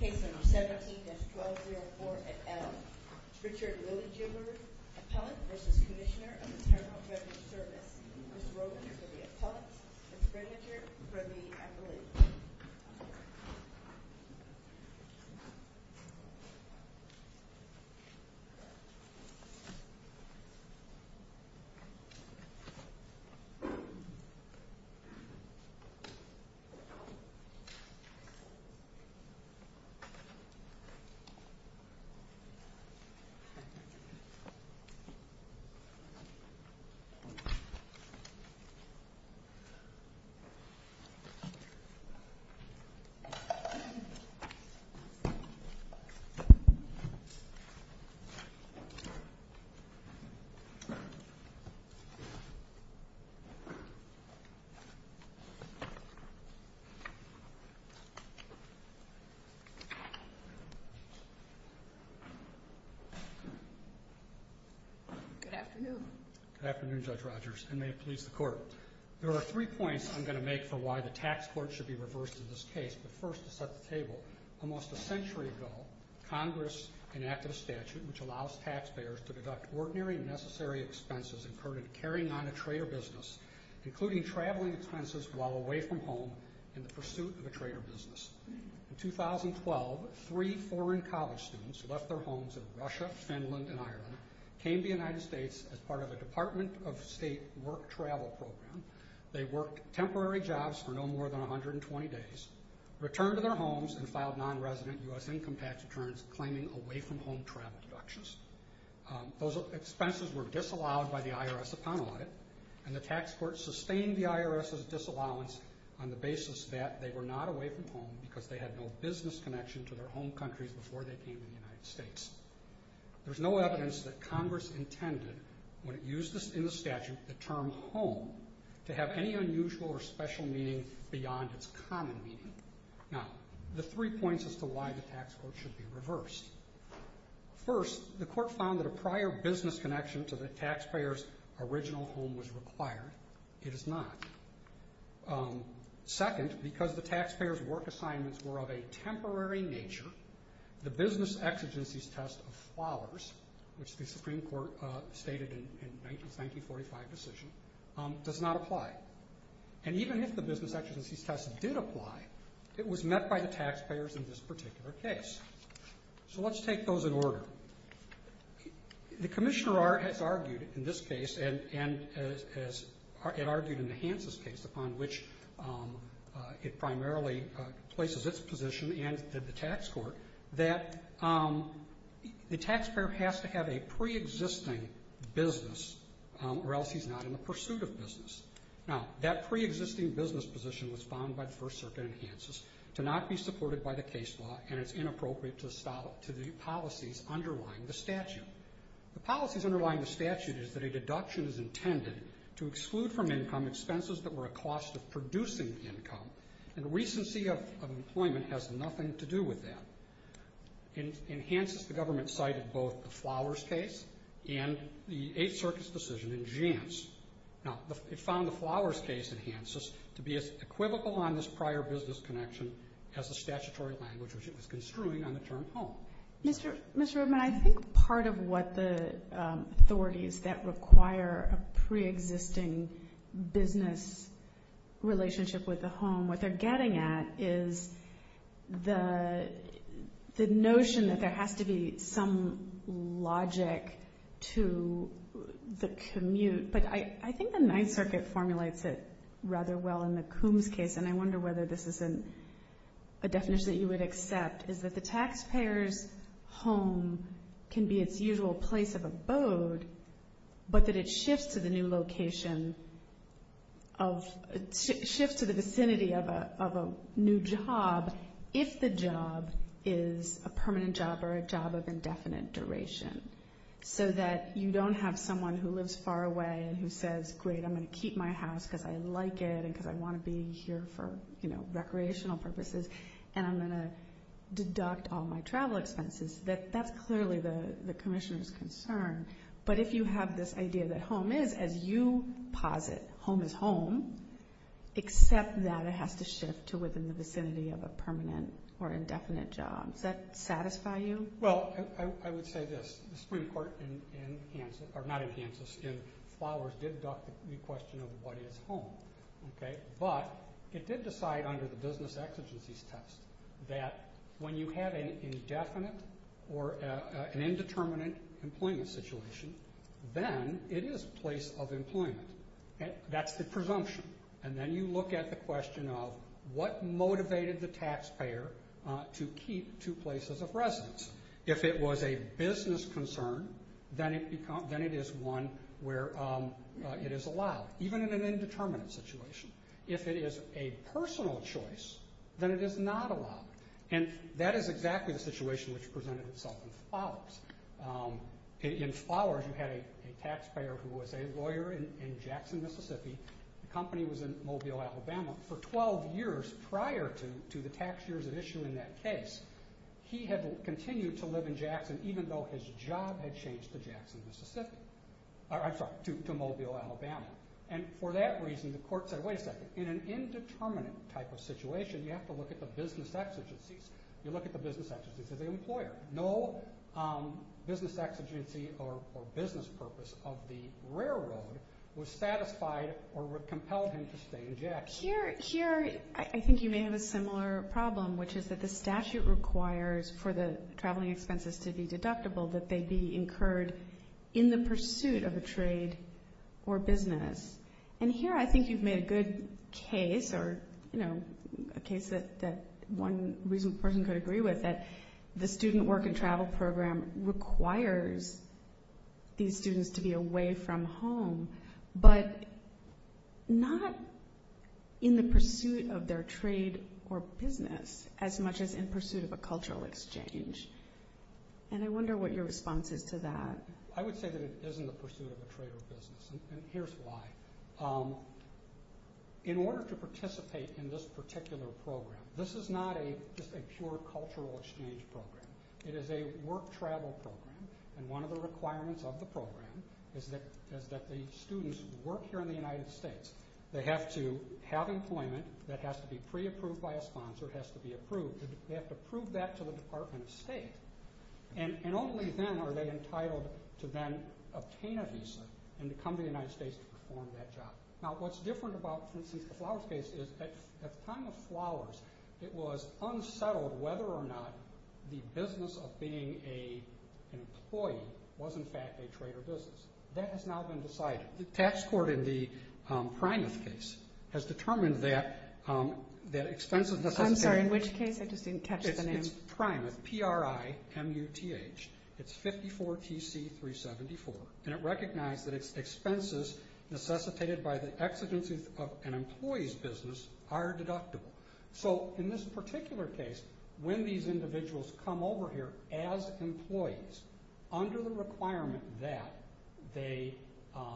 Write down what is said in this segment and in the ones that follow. Case number 17-1204-L. Richard Liljeberg, Appellant v. Cmsnr. of Internal Revenue Service. Ms. Rosen for the Appellant. Ms. Bredinger for the Appellant. Thank you, Mr. Chairman. Good afternoon, Judge Rogers, and may it please the Court. There are three points I'm going to make for why the tax court should be reversed in this case, but first to set the table. Almost a century ago, Congress enacted a statute which allows taxpayers to deduct ordinary and necessary expenses incurred in carrying on a trade or business, including traveling expenses while away from home in the pursuit of a trade or business. In 2012, three foreign college students who left their homes in Russia, Finland, and Ireland came to the United States as part of a Department of State work travel program. They worked temporary jobs for no more than 120 days, returned to their homes, and filed non-resident U.S. income tax returns claiming away-from-home travel deductions. Those expenses were disallowed by the IRS upon audit, and the tax court sustained the IRS's disallowance on the basis that they were not away from home because they had no business connection to their home countries before they came to the United States. There is no evidence that Congress intended, when it used in the statute the term home, to have any unusual or special meaning beyond its First, the court found that a prior business connection to the taxpayers' original home was required. It is not. Second, because the taxpayers' work assignments were of a temporary nature, the business exigencies test of flowers, which the Supreme Court stated in its 1945 decision, does not apply. And even if the business exigencies test did apply, it was not by the taxpayers in this particular case. So let's take those in order. The commissioner has argued in this case, and as it argued in the Hanses case, upon which it primarily places its position and the tax court, that the taxpayer has to have a pre-existing business or else he's not in the pursuit of business. Now, that pre-existing business position was provided by the First Circuit in Hanses to not be supported by the case law, and it's inappropriate to the policies underlying the statute. The policies underlying the statute is that a deduction is intended to exclude from income expenses that were a cost of producing income, and recency of employment has nothing to do with that. In Hanses, the government cited both the flowers case and the Eighth Circuit's decision in Jantz. Now, it found the flowers case in Hanses to be as equivocal on this prior business connection as the statutory language which it was construing on the term home. Mr. Rubin, I think part of what the authorities that require a pre-existing business relationship with the home, what they're getting at is the notion that there has to be some logic to the commute, but I think the Ninth Circuit formulates it rather well in the Coombs case, and I wonder whether this is a definition that you would accept, is that the taxpayer's home can be its usual place of abode, but that it shifts to the new location of, shifts to the vicinity of a new job if the job is a permanent job or a job of indefinite duration. So that you don't have someone who lives far away and who says, great, I'm going to keep my house because I like it and because I want to be here for recreational purposes, and I'm going to deduct all my travel expenses. That's clearly the commissioner's concern, but if you have this idea that home is, as you posit, home is home, except that it has to shift to within the vicinity of a permanent or indefinite job, does that satisfy you? Well, I would say this. The Supreme Court in Hanson, or not in Hanson, in Flowers did deduct the question of what is home, but it did decide under the business exigencies test that when you have an indefinite or an indeterminate employment situation, then it is a place of employment. That's the presumption, and then you look at the question of what motivated the taxpayer to keep two places of residence. If it was a business concern, then it is one where it is allowed, even in an indeterminate situation. If it is a personal choice, then it is not allowed, and that is exactly the situation which presented itself in Flowers. In Flowers, you had a taxpayer who was a lawyer in Jackson, Mississippi. The company was in addition to the taxpayers at issue in that case. He had continued to live in Jackson even though his job had changed to Jackson, Mississippi. I'm sorry, to Mobile, Alabama. For that reason, the court said, wait a second, in an indeterminate type of situation, you have to look at the business exigencies. You look at the business exigencies of the employer. No business exigency or business purpose of the railroad was satisfied or compelled him Here, I think you may have a similar problem, which is that the statute requires for the traveling expenses to be deductible, that they be incurred in the pursuit of a trade or business. Here, I think you've made a good case, or a case that one reasonable person could agree with, that the student work and travel program requires these students to be away from home, but not in the pursuit of their trade or business as much as in pursuit of a cultural exchange. I wonder what your response is to that. I would say that it isn't the pursuit of a trade or business. Here's why. In order to participate in this particular program, this is not just a pure cultural exchange program. It is a work-travel program, and one of the requirements of the program is that the students work here in the United States. They have to have employment that has to be pre-approved by a sponsor, has to be approved. They have to prove that to the Department of State, and only then are they entitled to then obtain a visa and come to the United States to perform that job. Now, what's different about, for instance, the Flowers case is that at the whether or not the business of being an employee was in fact a trade or business. That has now been decided. The tax court in the Primath case has determined that expenses necessitated I'm sorry, in which case? I just didn't catch the name. It's Primath, P-R-I-M-U-T-H. It's 54 TC 374, and it recognized that expenses necessitated by the exigencies of an employee's business are deductible. So in this particular case, when these individuals come over here as employees, under the requirement that they are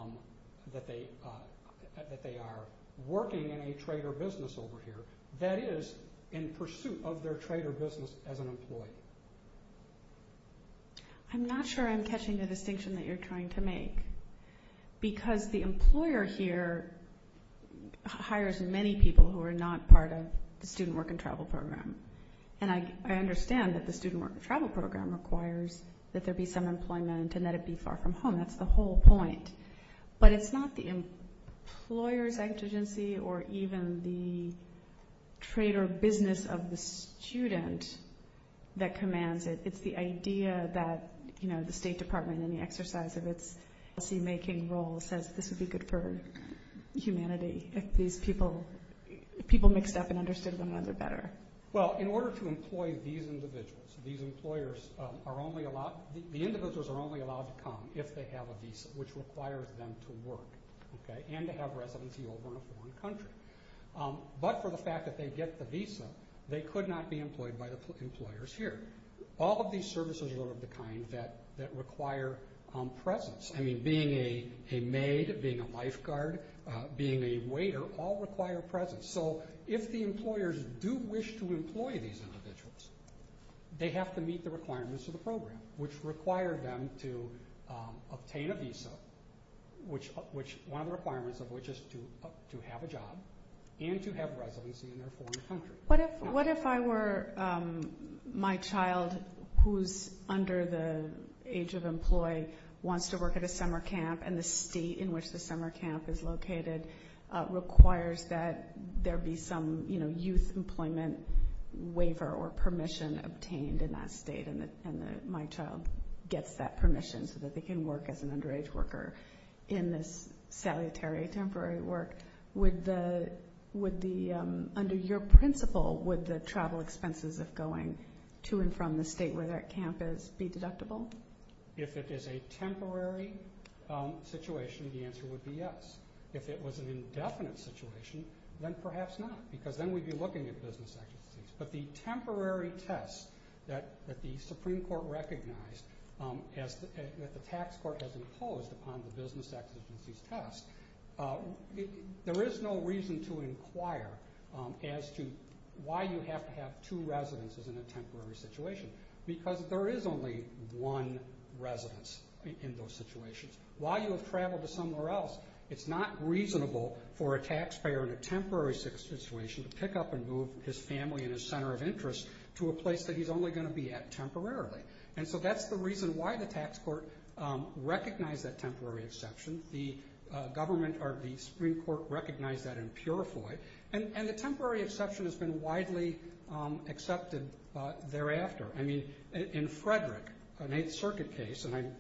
working in a trade or business over here, that is in pursuit of their trade or business as an employee. I'm not sure I'm catching the distinction that you're trying to make, because the employer hires many people who are not part of the student work and travel program. And I understand that the student work and travel program requires that there be some employment and that it be far from home. That's the whole point. But it's not the employer's exigency or even the trade or business of the student that commands it. It's the idea that the State Department, in the exercise of its policy-making role, says this would be good for humanity if these people mixed up and understood one another better. Well, in order to employ these individuals, the individuals are only allowed to come if they have a visa, which requires them to work and to have residency over in a foreign country. But for the fact that they get the visa, they could not be employed by the employers here. All of these services are of the kind that require presence. I mean, being a maid, being a lifeguard, being a waiter, all require presence. So if the employers do wish to employ these individuals, they have to meet the requirements of the program, which require them to obtain a visa, one of the requirements of which is to have a job and to have residency in their foreign country. What if I were my child who's under the age of employ, wants to work at a summer camp, and the state in which the summer camp is located requires that there be some, you know, youth employment waiver or permission obtained in that state, and my child gets that permission so that they can work as an underage worker in this salutary temporary work? Would the, under your principle, would the travel expenses of going to and from the state where that camp is be deductible? If it is a temporary situation, the answer would be yes. If it was an indefinite situation, then perhaps not, because then we'd be looking at business exigencies. But the temporary test that the Supreme Court recognized, that the tax court has imposed upon the business exigencies test, there is no reason to inquire as to why you have to have two residences in a temporary situation, because there is only one residence in those situations. While you have traveled to somewhere else, it's not reasonable for a taxpayer in a temporary situation to pick up and move his family and his center of interest to a place that he's only going to be at temporarily. And so that's the reason why the tax court recognized that temporary exception. The government, or the Supreme Court, recognized that and purified. And the temporary exception has been widely accepted thereafter. I mean, in Frederick, an Eighth Circuit case, and I'm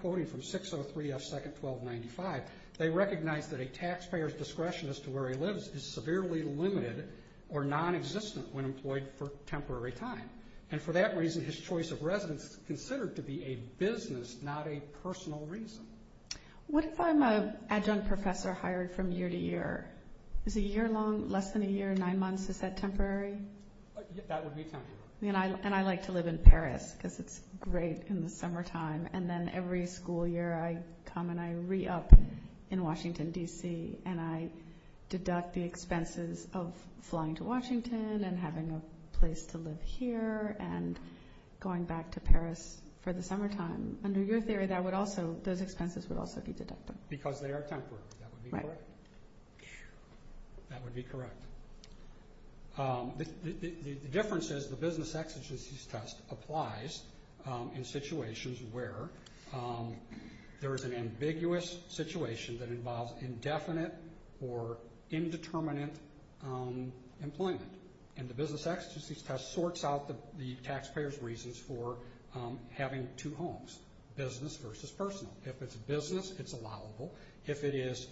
quoting from 603 F. Second 1295, they recognized that a taxpayer's discretion as to where he lives is severely limited or nonexistent when employed for temporary time. And for that reason, his choice of residence is considered to be a business, not a personal reason. What if I'm an adjunct professor hired from year to year? Is a year long less than a year, nine months? Is that temporary? That would be temporary. And I like to live in Paris, because it's great in the summertime. And then every school year, I come and I re-up in Washington, D.C., and I deduct the expenses of flying to Washington and having a place to live here and going back to Paris for the summertime. Under your theory, those expenses would also be deducted. Because they are temporary. That would be correct. The difference is the business exigencies test applies in situations where there is an ambiguous situation that involves indefinite or indeterminate employment. And the business exigencies test sorts out the taxpayer's reasons for having two homes, business versus personal. If it's business, it's allowable. If it is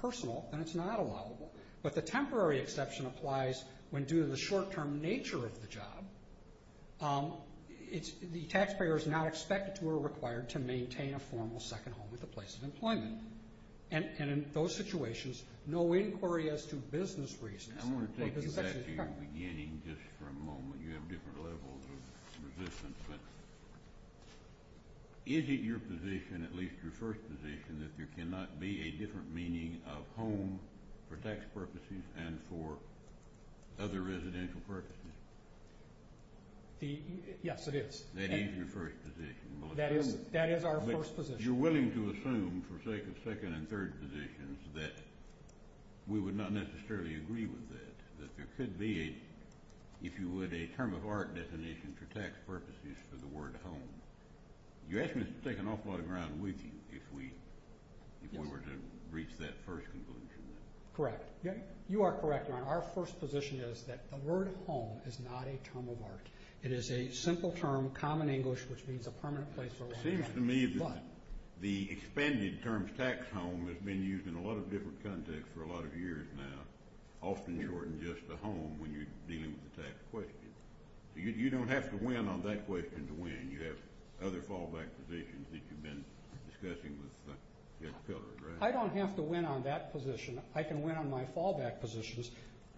personal, then it's not allowable. But the temporary exception applies when, due to the short-term nature of the job, the taxpayer is not expected to or required to maintain a formal second home with a place of employment. And in those situations, no inquiry as to business reasons. I want to take you back to your beginning just for a moment. You have different levels of resistance. But is it your position, at least your first position, that there cannot be a different meaning of home for tax purposes and for other residential purposes? Yes, it is. That is your first position. That is our first position. But you're willing to assume, for sake of second and third positions, that we would not necessarily agree with that, that there could be, if you would, a term of art definition for tax purposes for the word home. You asked me to take an awful lot of ground with you if we were to reach that first conclusion. Correct. You are correct, Ron. Our first position is that the word home is not a term of art. It is a simple term, common English, which means a permanent place for a long time. It seems to me that the expanded term tax home has been used in a lot of different contexts for a lot of years now, often shortened just to home when you're dealing with the tax question. You don't have to win on that question to win. You have other fallback positions that you've been discussing with Mr. Pillard, right? I don't have to win on that position. I can win on my fallback positions.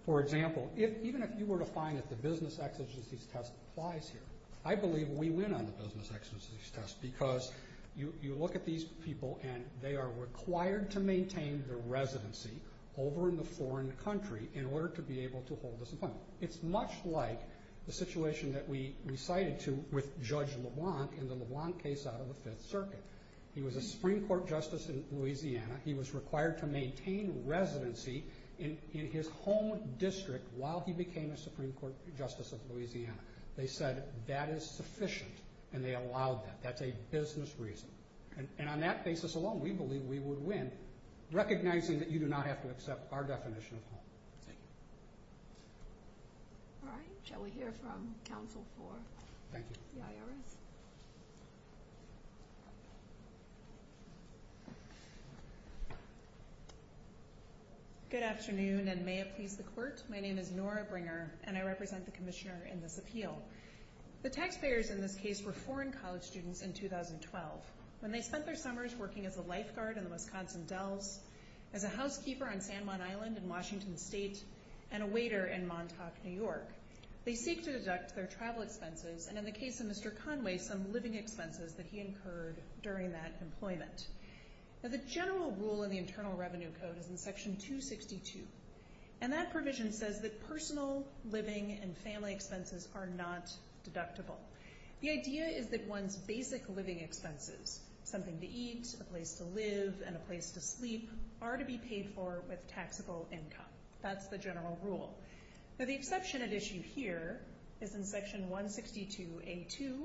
For example, even if you were to find that the business exigencies test applies here, I believe we win on the business exigencies test because you look at these people and they are required to maintain their residency over in the foreign country in order to be able to hold this employment. It's much like the situation that we cited to with Judge LeBlanc in the LeBlanc case out of the Fifth Circuit. He was a Supreme Court justice in Louisiana. He was required to maintain residency in his home district while he became a Supreme Court justice of Louisiana. They said that is sufficient, and they allowed that. That's a business reason. And on that basis alone, we believe we would win, recognizing that you do not have to accept our definition of home. Thank you. All right. Shall we hear from counsel for the IRS? Thank you. Good afternoon, and may it please the Court. My name is Nora Bringer, and I represent the Commissioner in this appeal. The taxpayers in this case were foreign college students in 2012. When they spent their summers working as a lifeguard in the Wisconsin Dells, as a housekeeper on San Juan Island in Washington State, and a waiter in Montauk, New York, they seek to deduct their travel expenses and, in the case of Mr. Conway, some living expenses that he incurred during that employment. Now, the general rule in the Internal Revenue Code is in Section 262, and that provision says that personal, living, and family expenses are not deductible. The idea is that one's basic living expenses, something to eat, a place to live, and a place to sleep, are to be paid for with taxable income. That's the general rule. Now, the exception at issue here is in Section 162A2,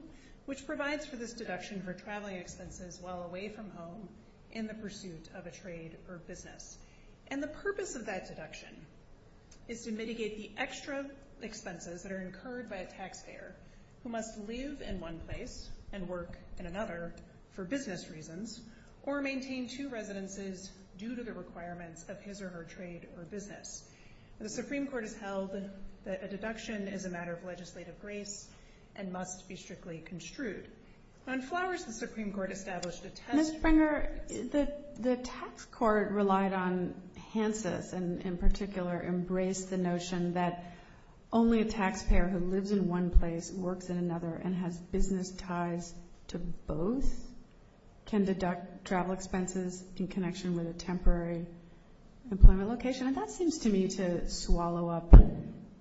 which provides for this deduction for traveling expenses while away from home in the pursuit of a trade or business. And the purpose of that deduction is to mitigate the extra expenses that are incurred by a taxpayer who must live in one place and work in another for business reasons or maintain two residences due to the requirements of his or her trade or business. The Supreme Court has held that a deduction is a matter of legislative grace and must be strictly construed. On flowers, the Supreme Court established a test- Ms. Springer, the tax court relied on Hanses and, in particular, embraced the notion that only a taxpayer who lives in one place, works in another, and has business ties to both can deduct travel expenses in connection with a temporary employment location. And that seems to me to swallow up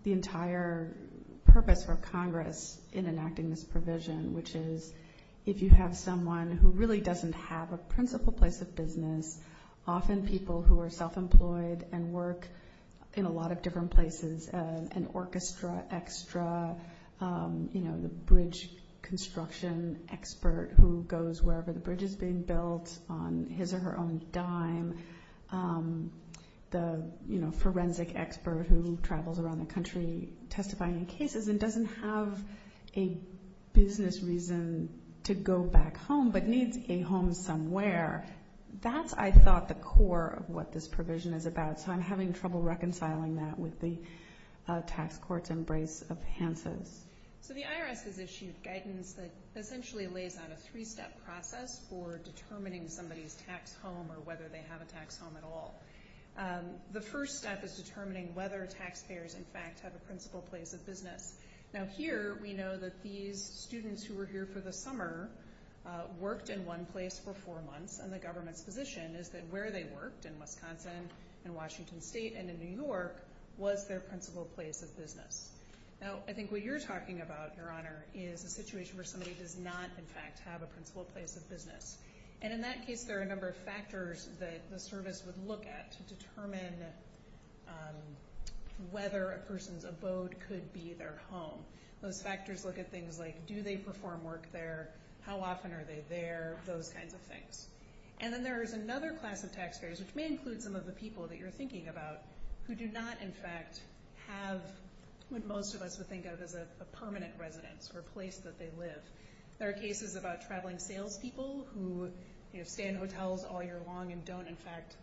the entire purpose for Congress in enacting this provision, which is if you have someone who really doesn't have a principal place of business, often people who are self-employed and work in a lot of different places, an orchestra extra, the bridge construction expert who goes wherever the bridge is being built on his or her own dime, the forensic expert who travels around the country testifying in cases and doesn't have a business reason to go back home but needs a home somewhere, that's, I thought, the core of what this provision is about, so I'm having trouble reconciling that with the tax court's embrace of Hanses. So the IRS has issued guidance that essentially lays out a three-step process for determining somebody's tax home or whether they have a tax home at all. The first step is determining whether taxpayers, in fact, have a principal place of business. Now, here we know that these students who were here for the summer worked in one place for four months, and the government's position is that where they worked, in Wisconsin, in Washington State, and in New York, was their principal place of business. Now, I think what you're talking about, Your Honor, is a situation where somebody does not, in fact, have a principal place of business. And in that case, there are a number of factors that the service would look at to determine whether a person's abode could be their home. Those factors look at things like do they perform work there, how often are they there, those kinds of things. And then there is another class of taxpayers, which may include some of the people that you're thinking about, who do not, in fact, have what most of us would think of as a permanent residence or a place that they live. There are cases about traveling salespeople who stay in hotels all year long and don't, in fact,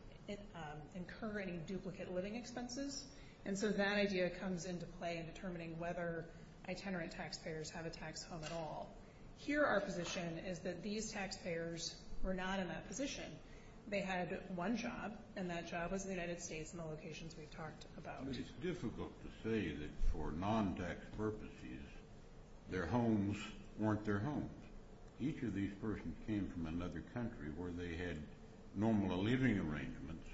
incur any duplicate living expenses. And so that idea comes into play in determining whether itinerant taxpayers have a tax home at all. Here our position is that these taxpayers were not in that position. They had one job, and that job was in the United States in the locations we've talked about. It's difficult to say that for non-tax purposes their homes weren't their homes. Each of these persons came from another country where they had normal living arrangements.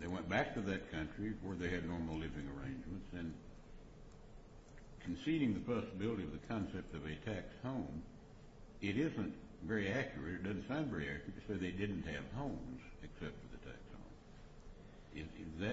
They went back to that country where they had normal living arrangements. And conceding the possibility of the concept of a tax home, it isn't very accurate. It doesn't sound very accurate to say they didn't have homes except for the tax home.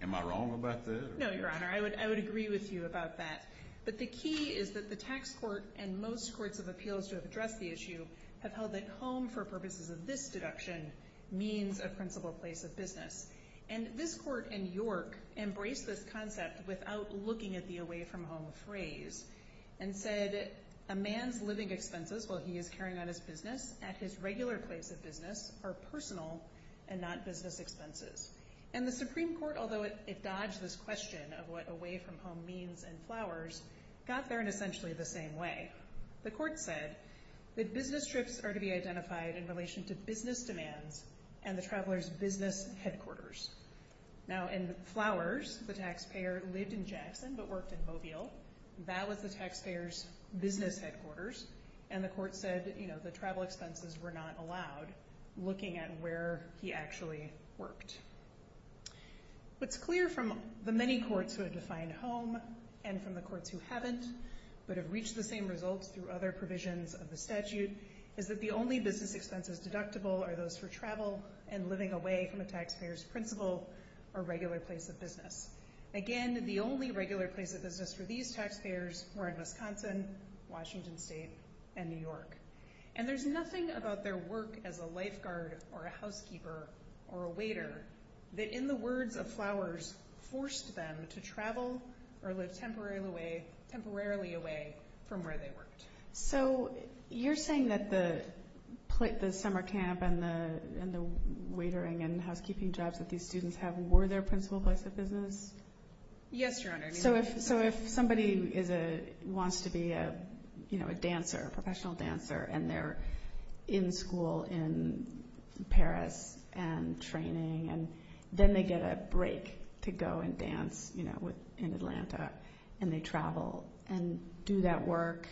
Am I wrong about that? No, Your Honor. I would agree with you about that. But the key is that the tax court and most courts of appeals to address the issue have held that home for purposes of this deduction means a principal place of business. And this court in York embraced this concept without looking at the away-from-home phrase and said a man's living expenses while he is carrying on his business at his regular place of business are personal and not business expenses. And the Supreme Court, although it dodged this question of what away-from-home means in flowers, got there in essentially the same way. The court said that business trips are to be identified in relation to business demands and the traveler's business headquarters. Now in flowers, the taxpayer lived in Jackson but worked in Mobile. That was the taxpayer's business headquarters. And the court said the travel expenses were not allowed, looking at where he actually worked. What's clear from the many courts who have defined home and from the courts who haven't but have reached the same results through other provisions of the statute is that the only business expenses deductible are those for travel and living away from a taxpayer's principal or regular place of business. Again, the only regular place of business for these taxpayers were in Wisconsin, Washington State, and New York. And there's nothing about their work as a lifeguard or a housekeeper or a waiter that in the words of flowers forced them to travel or live temporarily away from where they worked. So you're saying that the summer camp and the waitering and housekeeping jobs that these students have were their principal place of business? Yes, Your Honor. So if somebody wants to be a dancer, a professional dancer, and they're in school in Paris and training, and then they get a break to go and dance in Atlanta, and they travel and do that work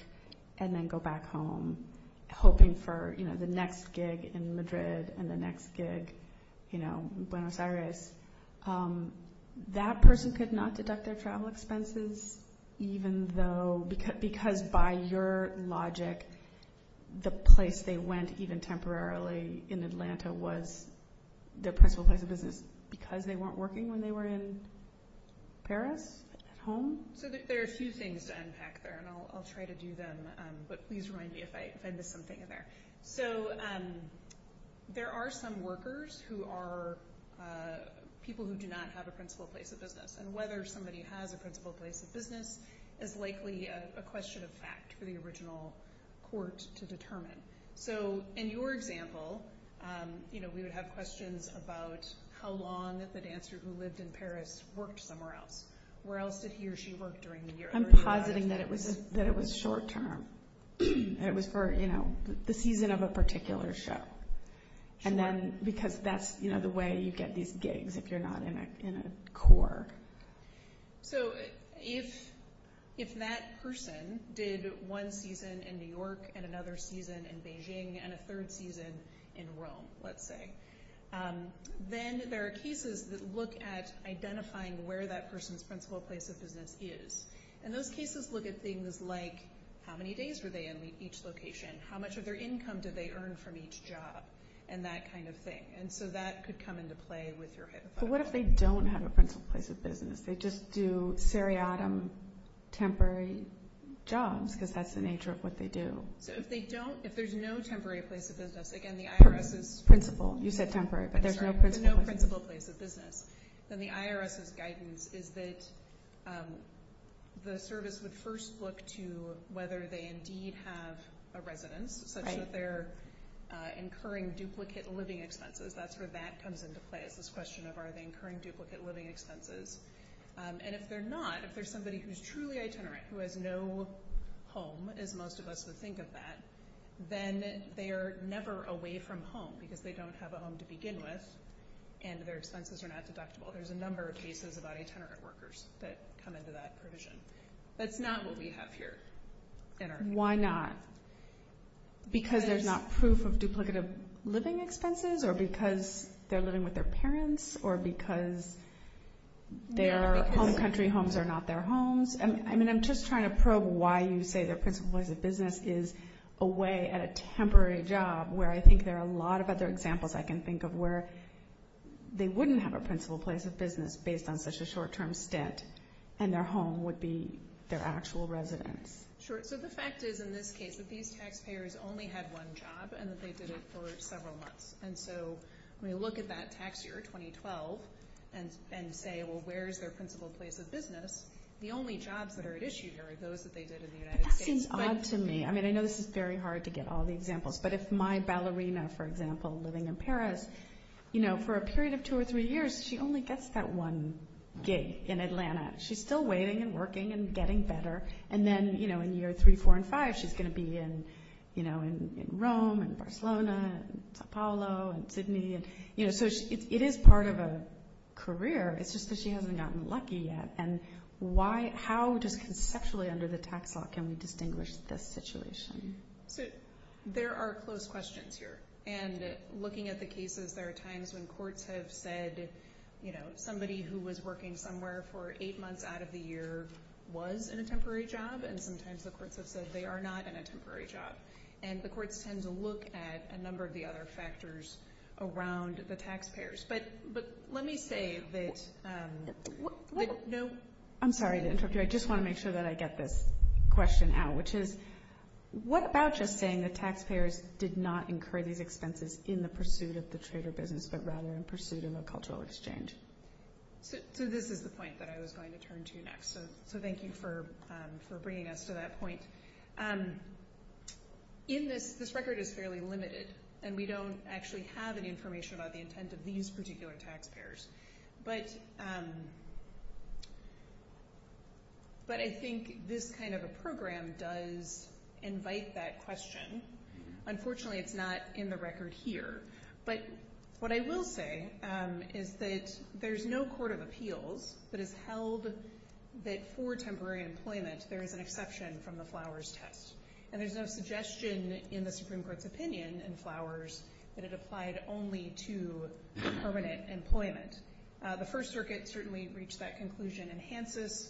and then go back home hoping for the next gig in Madrid and the next gig in Buenos Aires, that person could not deduct their travel expenses even though, because by your logic, the place they went even temporarily in Atlanta was their principal place of business because they weren't working when they were in Paris at home? So there are a few things to unpack there, and I'll try to do them, but please remind me if I miss something in there. So there are some workers who are people who do not have a principal place of business, and whether somebody has a principal place of business is likely a question of fact for the original court to determine. So in your example, we would have questions about how long the dancer who lived in Paris worked somewhere else. Where else did he or she work during the year? I'm positing that it was short term. It was for the season of a particular show, because that's the way you get these gigs if you're not in a core. So if that person did one season in New York and another season in Beijing and a third season in Rome, let's say, then there are cases that look at identifying where that person's principal place of business is, and those cases look at things like how many days were they in each location, how much of their income did they earn from each job, and that kind of thing. And so that could come into play with your hypothetical. But what if they don't have a principal place of business? They just do seriatim temporary jobs because that's the nature of what they do. So if they don't, if there's no temporary place of business, again the IRS is Principal. You said temporary, but there's no principal place of business. Then the IRS's guidance is that the service would first look to whether they indeed have a residence, such that they're incurring duplicate living expenses. That's where that comes into play is this question of are they incurring duplicate living expenses. And if they're not, if there's somebody who's truly itinerant, who has no home as most of us would think of that, then they are never away from home because they don't have a home to begin with and their expenses are not deductible. There's a number of cases about itinerant workers that come into that provision. That's not what we have here. Why not? Because there's not proof of duplicative living expenses, or because they're living with their parents, or because their home country homes are not their homes. I'm just trying to probe why you say their principal place of business is away at a temporary job, where I think there are a lot of other examples I can think of where they wouldn't have a principal place of business based on such a short-term stint, and their home would be their actual residence. Sure. So the fact is in this case that these taxpayers only had one job and that they did it for several months. And so when you look at that tax year, 2012, and say, well, where's their principal place of business, the only jobs that are at issue here are those that they did in the United States. That seems odd to me. I mean, I know this is very hard to get all the examples, but if my ballerina, for example, living in Paris, for a period of two or three years she only gets that one gig in Atlanta. She's still waiting and working and getting better. And then in year three, four, and five she's going to be in Rome and Barcelona and Sao Paulo and Sydney. So it is part of a career. It's just that she hasn't gotten lucky yet. And how just conceptually under the tax law can we distinguish this situation? So there are close questions here. And looking at the cases, there are times when courts have said, you know, somebody who was working somewhere for eight months out of the year was in a temporary job, and sometimes the courts have said they are not in a temporary job. And the courts tend to look at a number of the other factors around the taxpayers. But let me say that no— I'm sorry to interrupt you. I just want to make sure that I get this question out, which is what about just saying that taxpayers did not incur these expenses in the pursuit of the trader business, but rather in pursuit of a cultural exchange? So this is the point that I was going to turn to next. So thank you for bringing us to that point. This record is fairly limited, and we don't actually have any information about the intent of these particular taxpayers. But I think this kind of a program does invite that question. Unfortunately, it's not in the record here. But what I will say is that there's no court of appeals that has held that for temporary employment, there is an exception from the Flowers test. And there's no suggestion in the Supreme Court's opinion in Flowers that it applied only to permanent employment. The First Circuit certainly reached that conclusion in Hanses.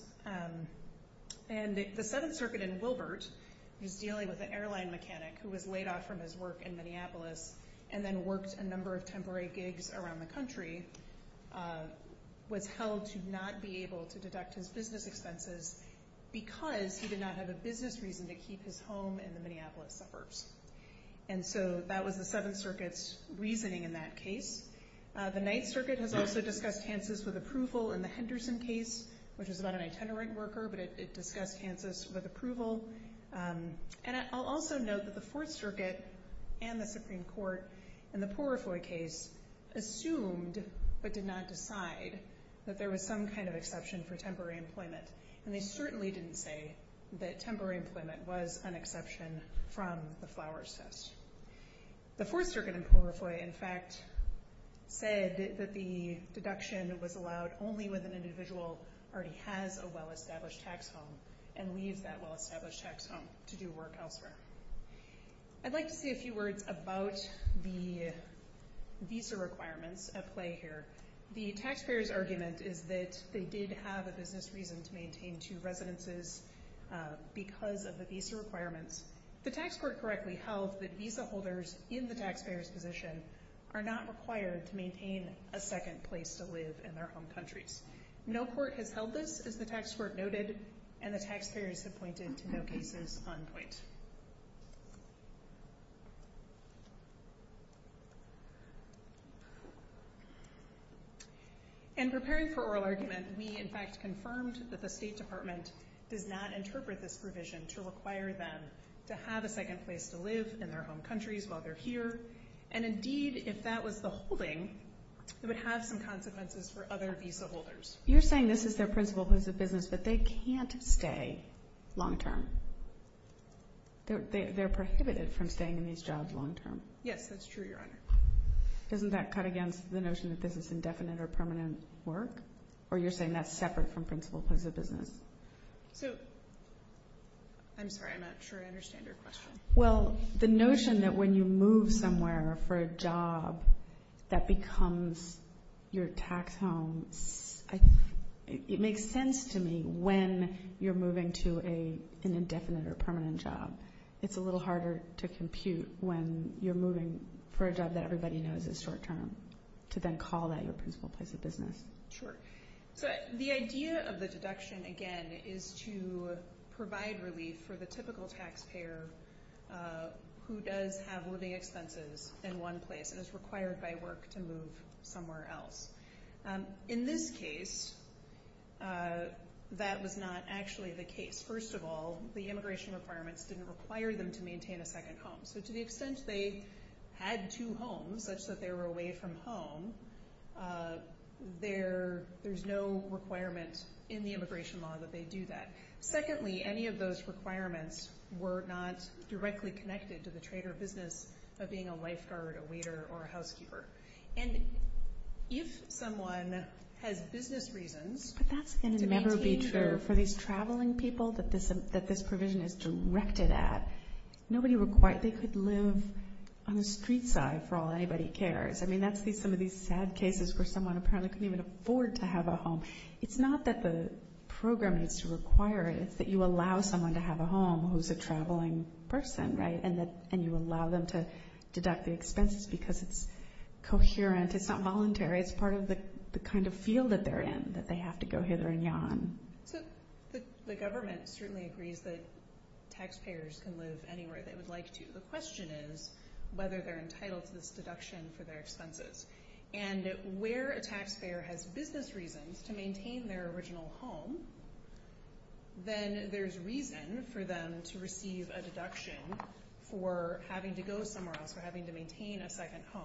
And the Seventh Circuit in Wilbert was dealing with an airline mechanic who was laid off from his work in Minneapolis and then worked a number of temporary gigs around the country, was held to not be able to deduct his business expenses because he did not have a business reason to keep his home in the Minneapolis suburbs. And so that was the Seventh Circuit's reasoning in that case. The Ninth Circuit has also discussed Hanses with approval in the Henderson case, which was about an itinerant worker, but it discussed Hanses with approval. And I'll also note that the Fourth Circuit and the Supreme Court in the Porifoy case assumed but did not decide that there was some kind of exception for temporary employment. And they certainly didn't say that temporary employment was an exception from the Flowers test. The Fourth Circuit in Porifoy, in fact, said that the deduction was allowed only when an individual already has a well-established tax home and leaves that well-established tax home to do work elsewhere. I'd like to say a few words about the visa requirements at play here. The taxpayers' argument is that they did have a business reason to maintain two residences because of the visa requirements. The tax court correctly held that visa holders in the taxpayers' position are not required to maintain a second place to live in their home countries. No court has held this, as the tax court noted, and the taxpayers have pointed to no cases on point. In preparing for oral argument, we, in fact, confirmed that the State Department does not interpret this provision to require them to have a second place to live in their home countries while they're here. And indeed, if that was the holding, it would have some consequences for other visa holders. You're saying this is their principle of business, but they can't stay long term. They're prohibited from staying in these jobs long term. Yes, that's true, Your Honor. Doesn't that cut against the notion that this is indefinite or permanent work? Or you're saying that's separate from principle of business? So, I'm sorry, I'm not sure I understand your question. Well, the notion that when you move somewhere for a job that becomes your tax home, it makes sense to me when you're moving to an indefinite or permanent job. It's a little harder to compute when you're moving for a job that everybody knows is short term to then call that your principle place of business. Sure. So, the idea of the deduction, again, is to provide relief for the typical taxpayer who does have living expenses in one place and is required by work to move somewhere else. In this case, that was not actually the case. First of all, the immigration requirements didn't require them to maintain a second home. So, to the extent they had two homes, such that they were away from home, there's no requirement in the immigration law that they do that. Secondly, any of those requirements were not directly connected to the trade or business of being a lifeguard, a waiter, or a housekeeper. And if someone has business reasons to maintain their- that this provision is directed at, they could live on the street side for all anybody cares. I mean, that's some of these sad cases where someone apparently couldn't even afford to have a home. It's not that the program needs to require it. It's that you allow someone to have a home who's a traveling person, right? And you allow them to deduct the expenses because it's coherent. It's not voluntary. It's part of the kind of field that they're in, that they have to go hither and yon. So, the government certainly agrees that taxpayers can live anywhere they would like to. The question is whether they're entitled to this deduction for their expenses. And where a taxpayer has business reasons to maintain their original home, then there's reason for them to receive a deduction for having to go somewhere else, for having to maintain a second home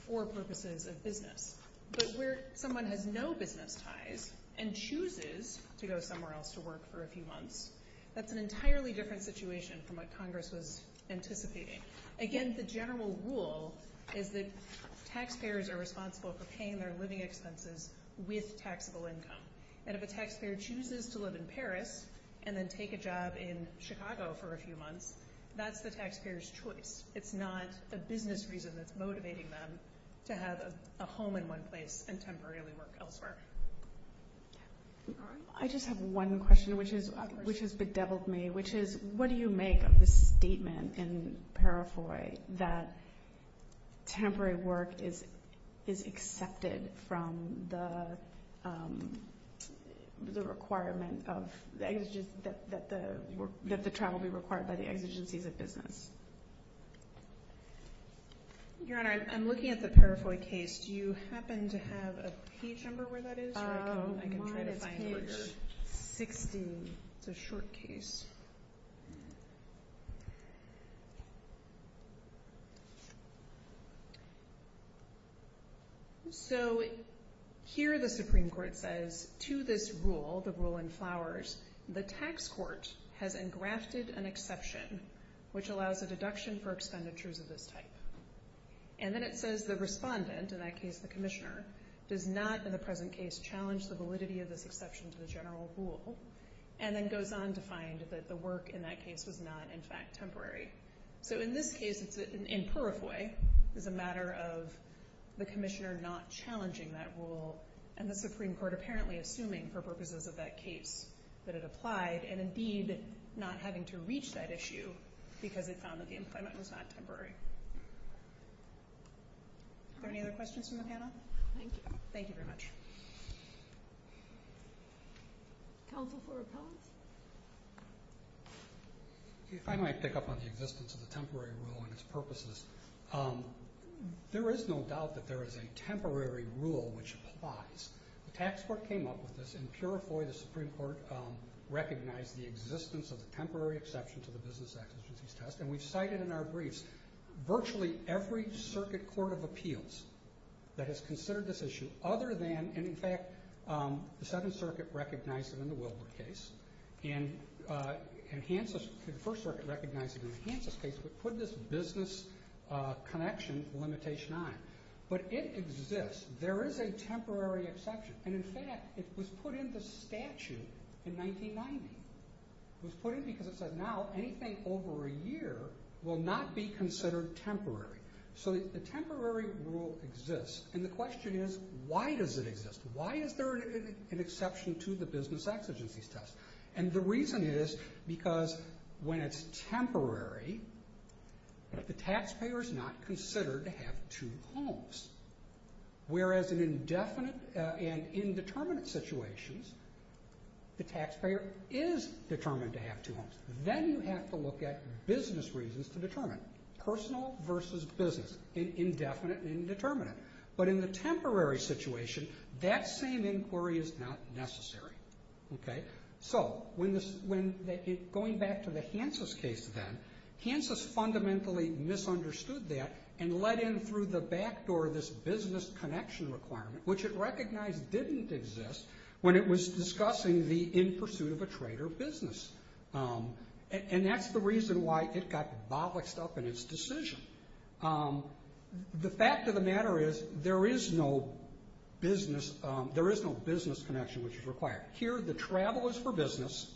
for purposes of business. But where someone has no business ties and chooses to go somewhere else to work for a few months, that's an entirely different situation from what Congress was anticipating. Again, the general rule is that taxpayers are responsible for paying their living expenses with taxable income. And if a taxpayer chooses to live in Paris and then take a job in Chicago for a few months, that's the taxpayer's choice. It's not a business reason that's motivating them to have a home in one place and temporarily work elsewhere. I just have one question, which has bedeviled me, which is what do you make of the statement in Parafoi that temporary work is accepted from the requirement that the travel be required by the exigencies of business? Your Honor, I'm looking at the Parafoi case. Do you happen to have a page number where that is? Oh, mine is page 16. It's a short case. So here the Supreme Court says to this rule, the rule in flowers, the tax court has engrafted an exception which allows a deduction for expenditures of this type. And then it says the respondent, in that case the commissioner, does not in the present case challenge the validity of this exception to the general rule and then goes on to find that the work in that case was not, in fact, temporary. So in this case, in Parafoi, it's a matter of the commissioner not challenging that rule and the Supreme Court apparently assuming for purposes of that case that it applied and indeed not having to reach that issue because it found that the employment was not temporary. Are there any other questions from the panel? Thank you. Thank you very much. Counsel for appellants? If I might pick up on the existence of the temporary rule and its purposes, there is no doubt that there is a temporary rule which applies. The tax court came up with this, and Parafoi, the Supreme Court, recognized the existence of the temporary exception to the business exigencies test, and we've cited in our briefs virtually every circuit court of appeals that has considered this issue other than, in fact, the Seventh Circuit recognized it in the Wilbur case, and the First Circuit recognized it in the Hansis case, but put this business connection limitation on it. But it exists. There is a temporary exception, and, in fact, it was put in the statute in 1990. It was put in because it said now anything over a year will not be considered temporary. So the temporary rule exists, and the question is, why does it exist? Why is there an exception to the business exigencies test? And the reason is because when it's temporary, the taxpayer is not considered to have two homes, whereas in indefinite and indeterminate situations, the taxpayer is determined to have two homes. Then you have to look at business reasons to determine, personal versus business, in indefinite and indeterminate. But in the temporary situation, that same inquiry is not necessary. So going back to the Hansis case then, Hansis fundamentally misunderstood that and let in through the back door this business connection requirement, which it recognized didn't exist when it was discussing the in pursuit of a trader business. And that's the reason why it got bolloxed up in its decision. The fact of the matter is there is no business connection which is required. Here the travel is for business.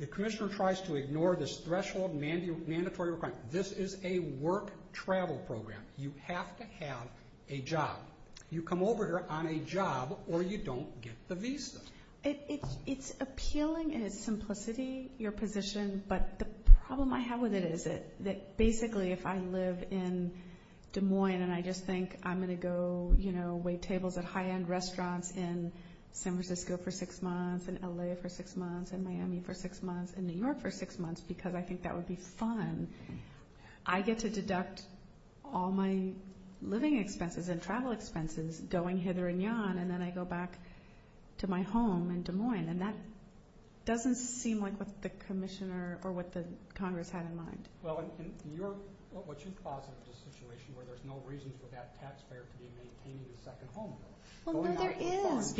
The commissioner tries to ignore this threshold mandatory requirement. This is a work travel program. You have to have a job. You come over here on a job or you don't get the visa. It's appealing in its simplicity, your position, but the problem I have with it is that basically if I live in Des Moines and I just think I'm going to go wait tables at high-end restaurants in San Francisco for six months and L.A. for six months and Miami for six months and New York for six months because I think that would be fun, I get to deduct all my living expenses and travel expenses going hither and yon and then I go back to my home in Des Moines. And that doesn't seem like what the commissioner or what the Congress had in mind. Well, and what you posit is a situation where there's no reason for that taxpayer to be maintaining the second home bill. Well, no, there is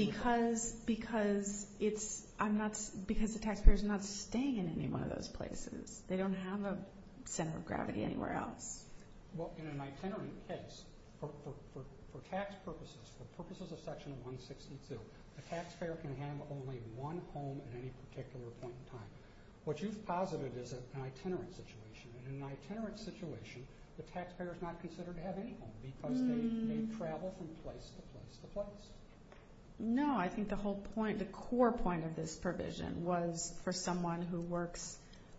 because the taxpayer's not staying in any one of those places. They don't have a center of gravity anywhere else. Well, in an itinerant case, for tax purposes, for purposes of Section 162, a taxpayer can have only one home at any particular point in time. What you've posited is an itinerant situation, and in an itinerant situation, the taxpayer's not considered to have any home because they travel from place to place to place. No, I think the whole point, the core point of this provision was for someone who works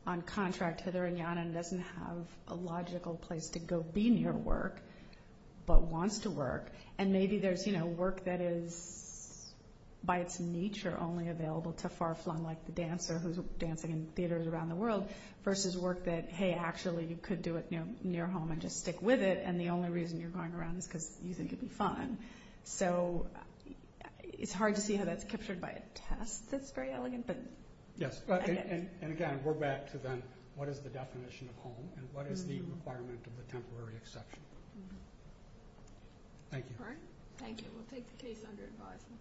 on contract hither and yon and doesn't have a logical place to go be near work but wants to work, and maybe there's work that is by its nature only available to far-flung, versus work that, hey, actually you could do it near home and just stick with it, and the only reason you're going around is because you think it'd be fun. So it's hard to see how that's captured by a test that's very elegant, but I get it. Yes, and again, we're back to then what is the definition of home and what is the requirement of a temporary exception. Thank you. All right, thank you. We'll take the case under advisement.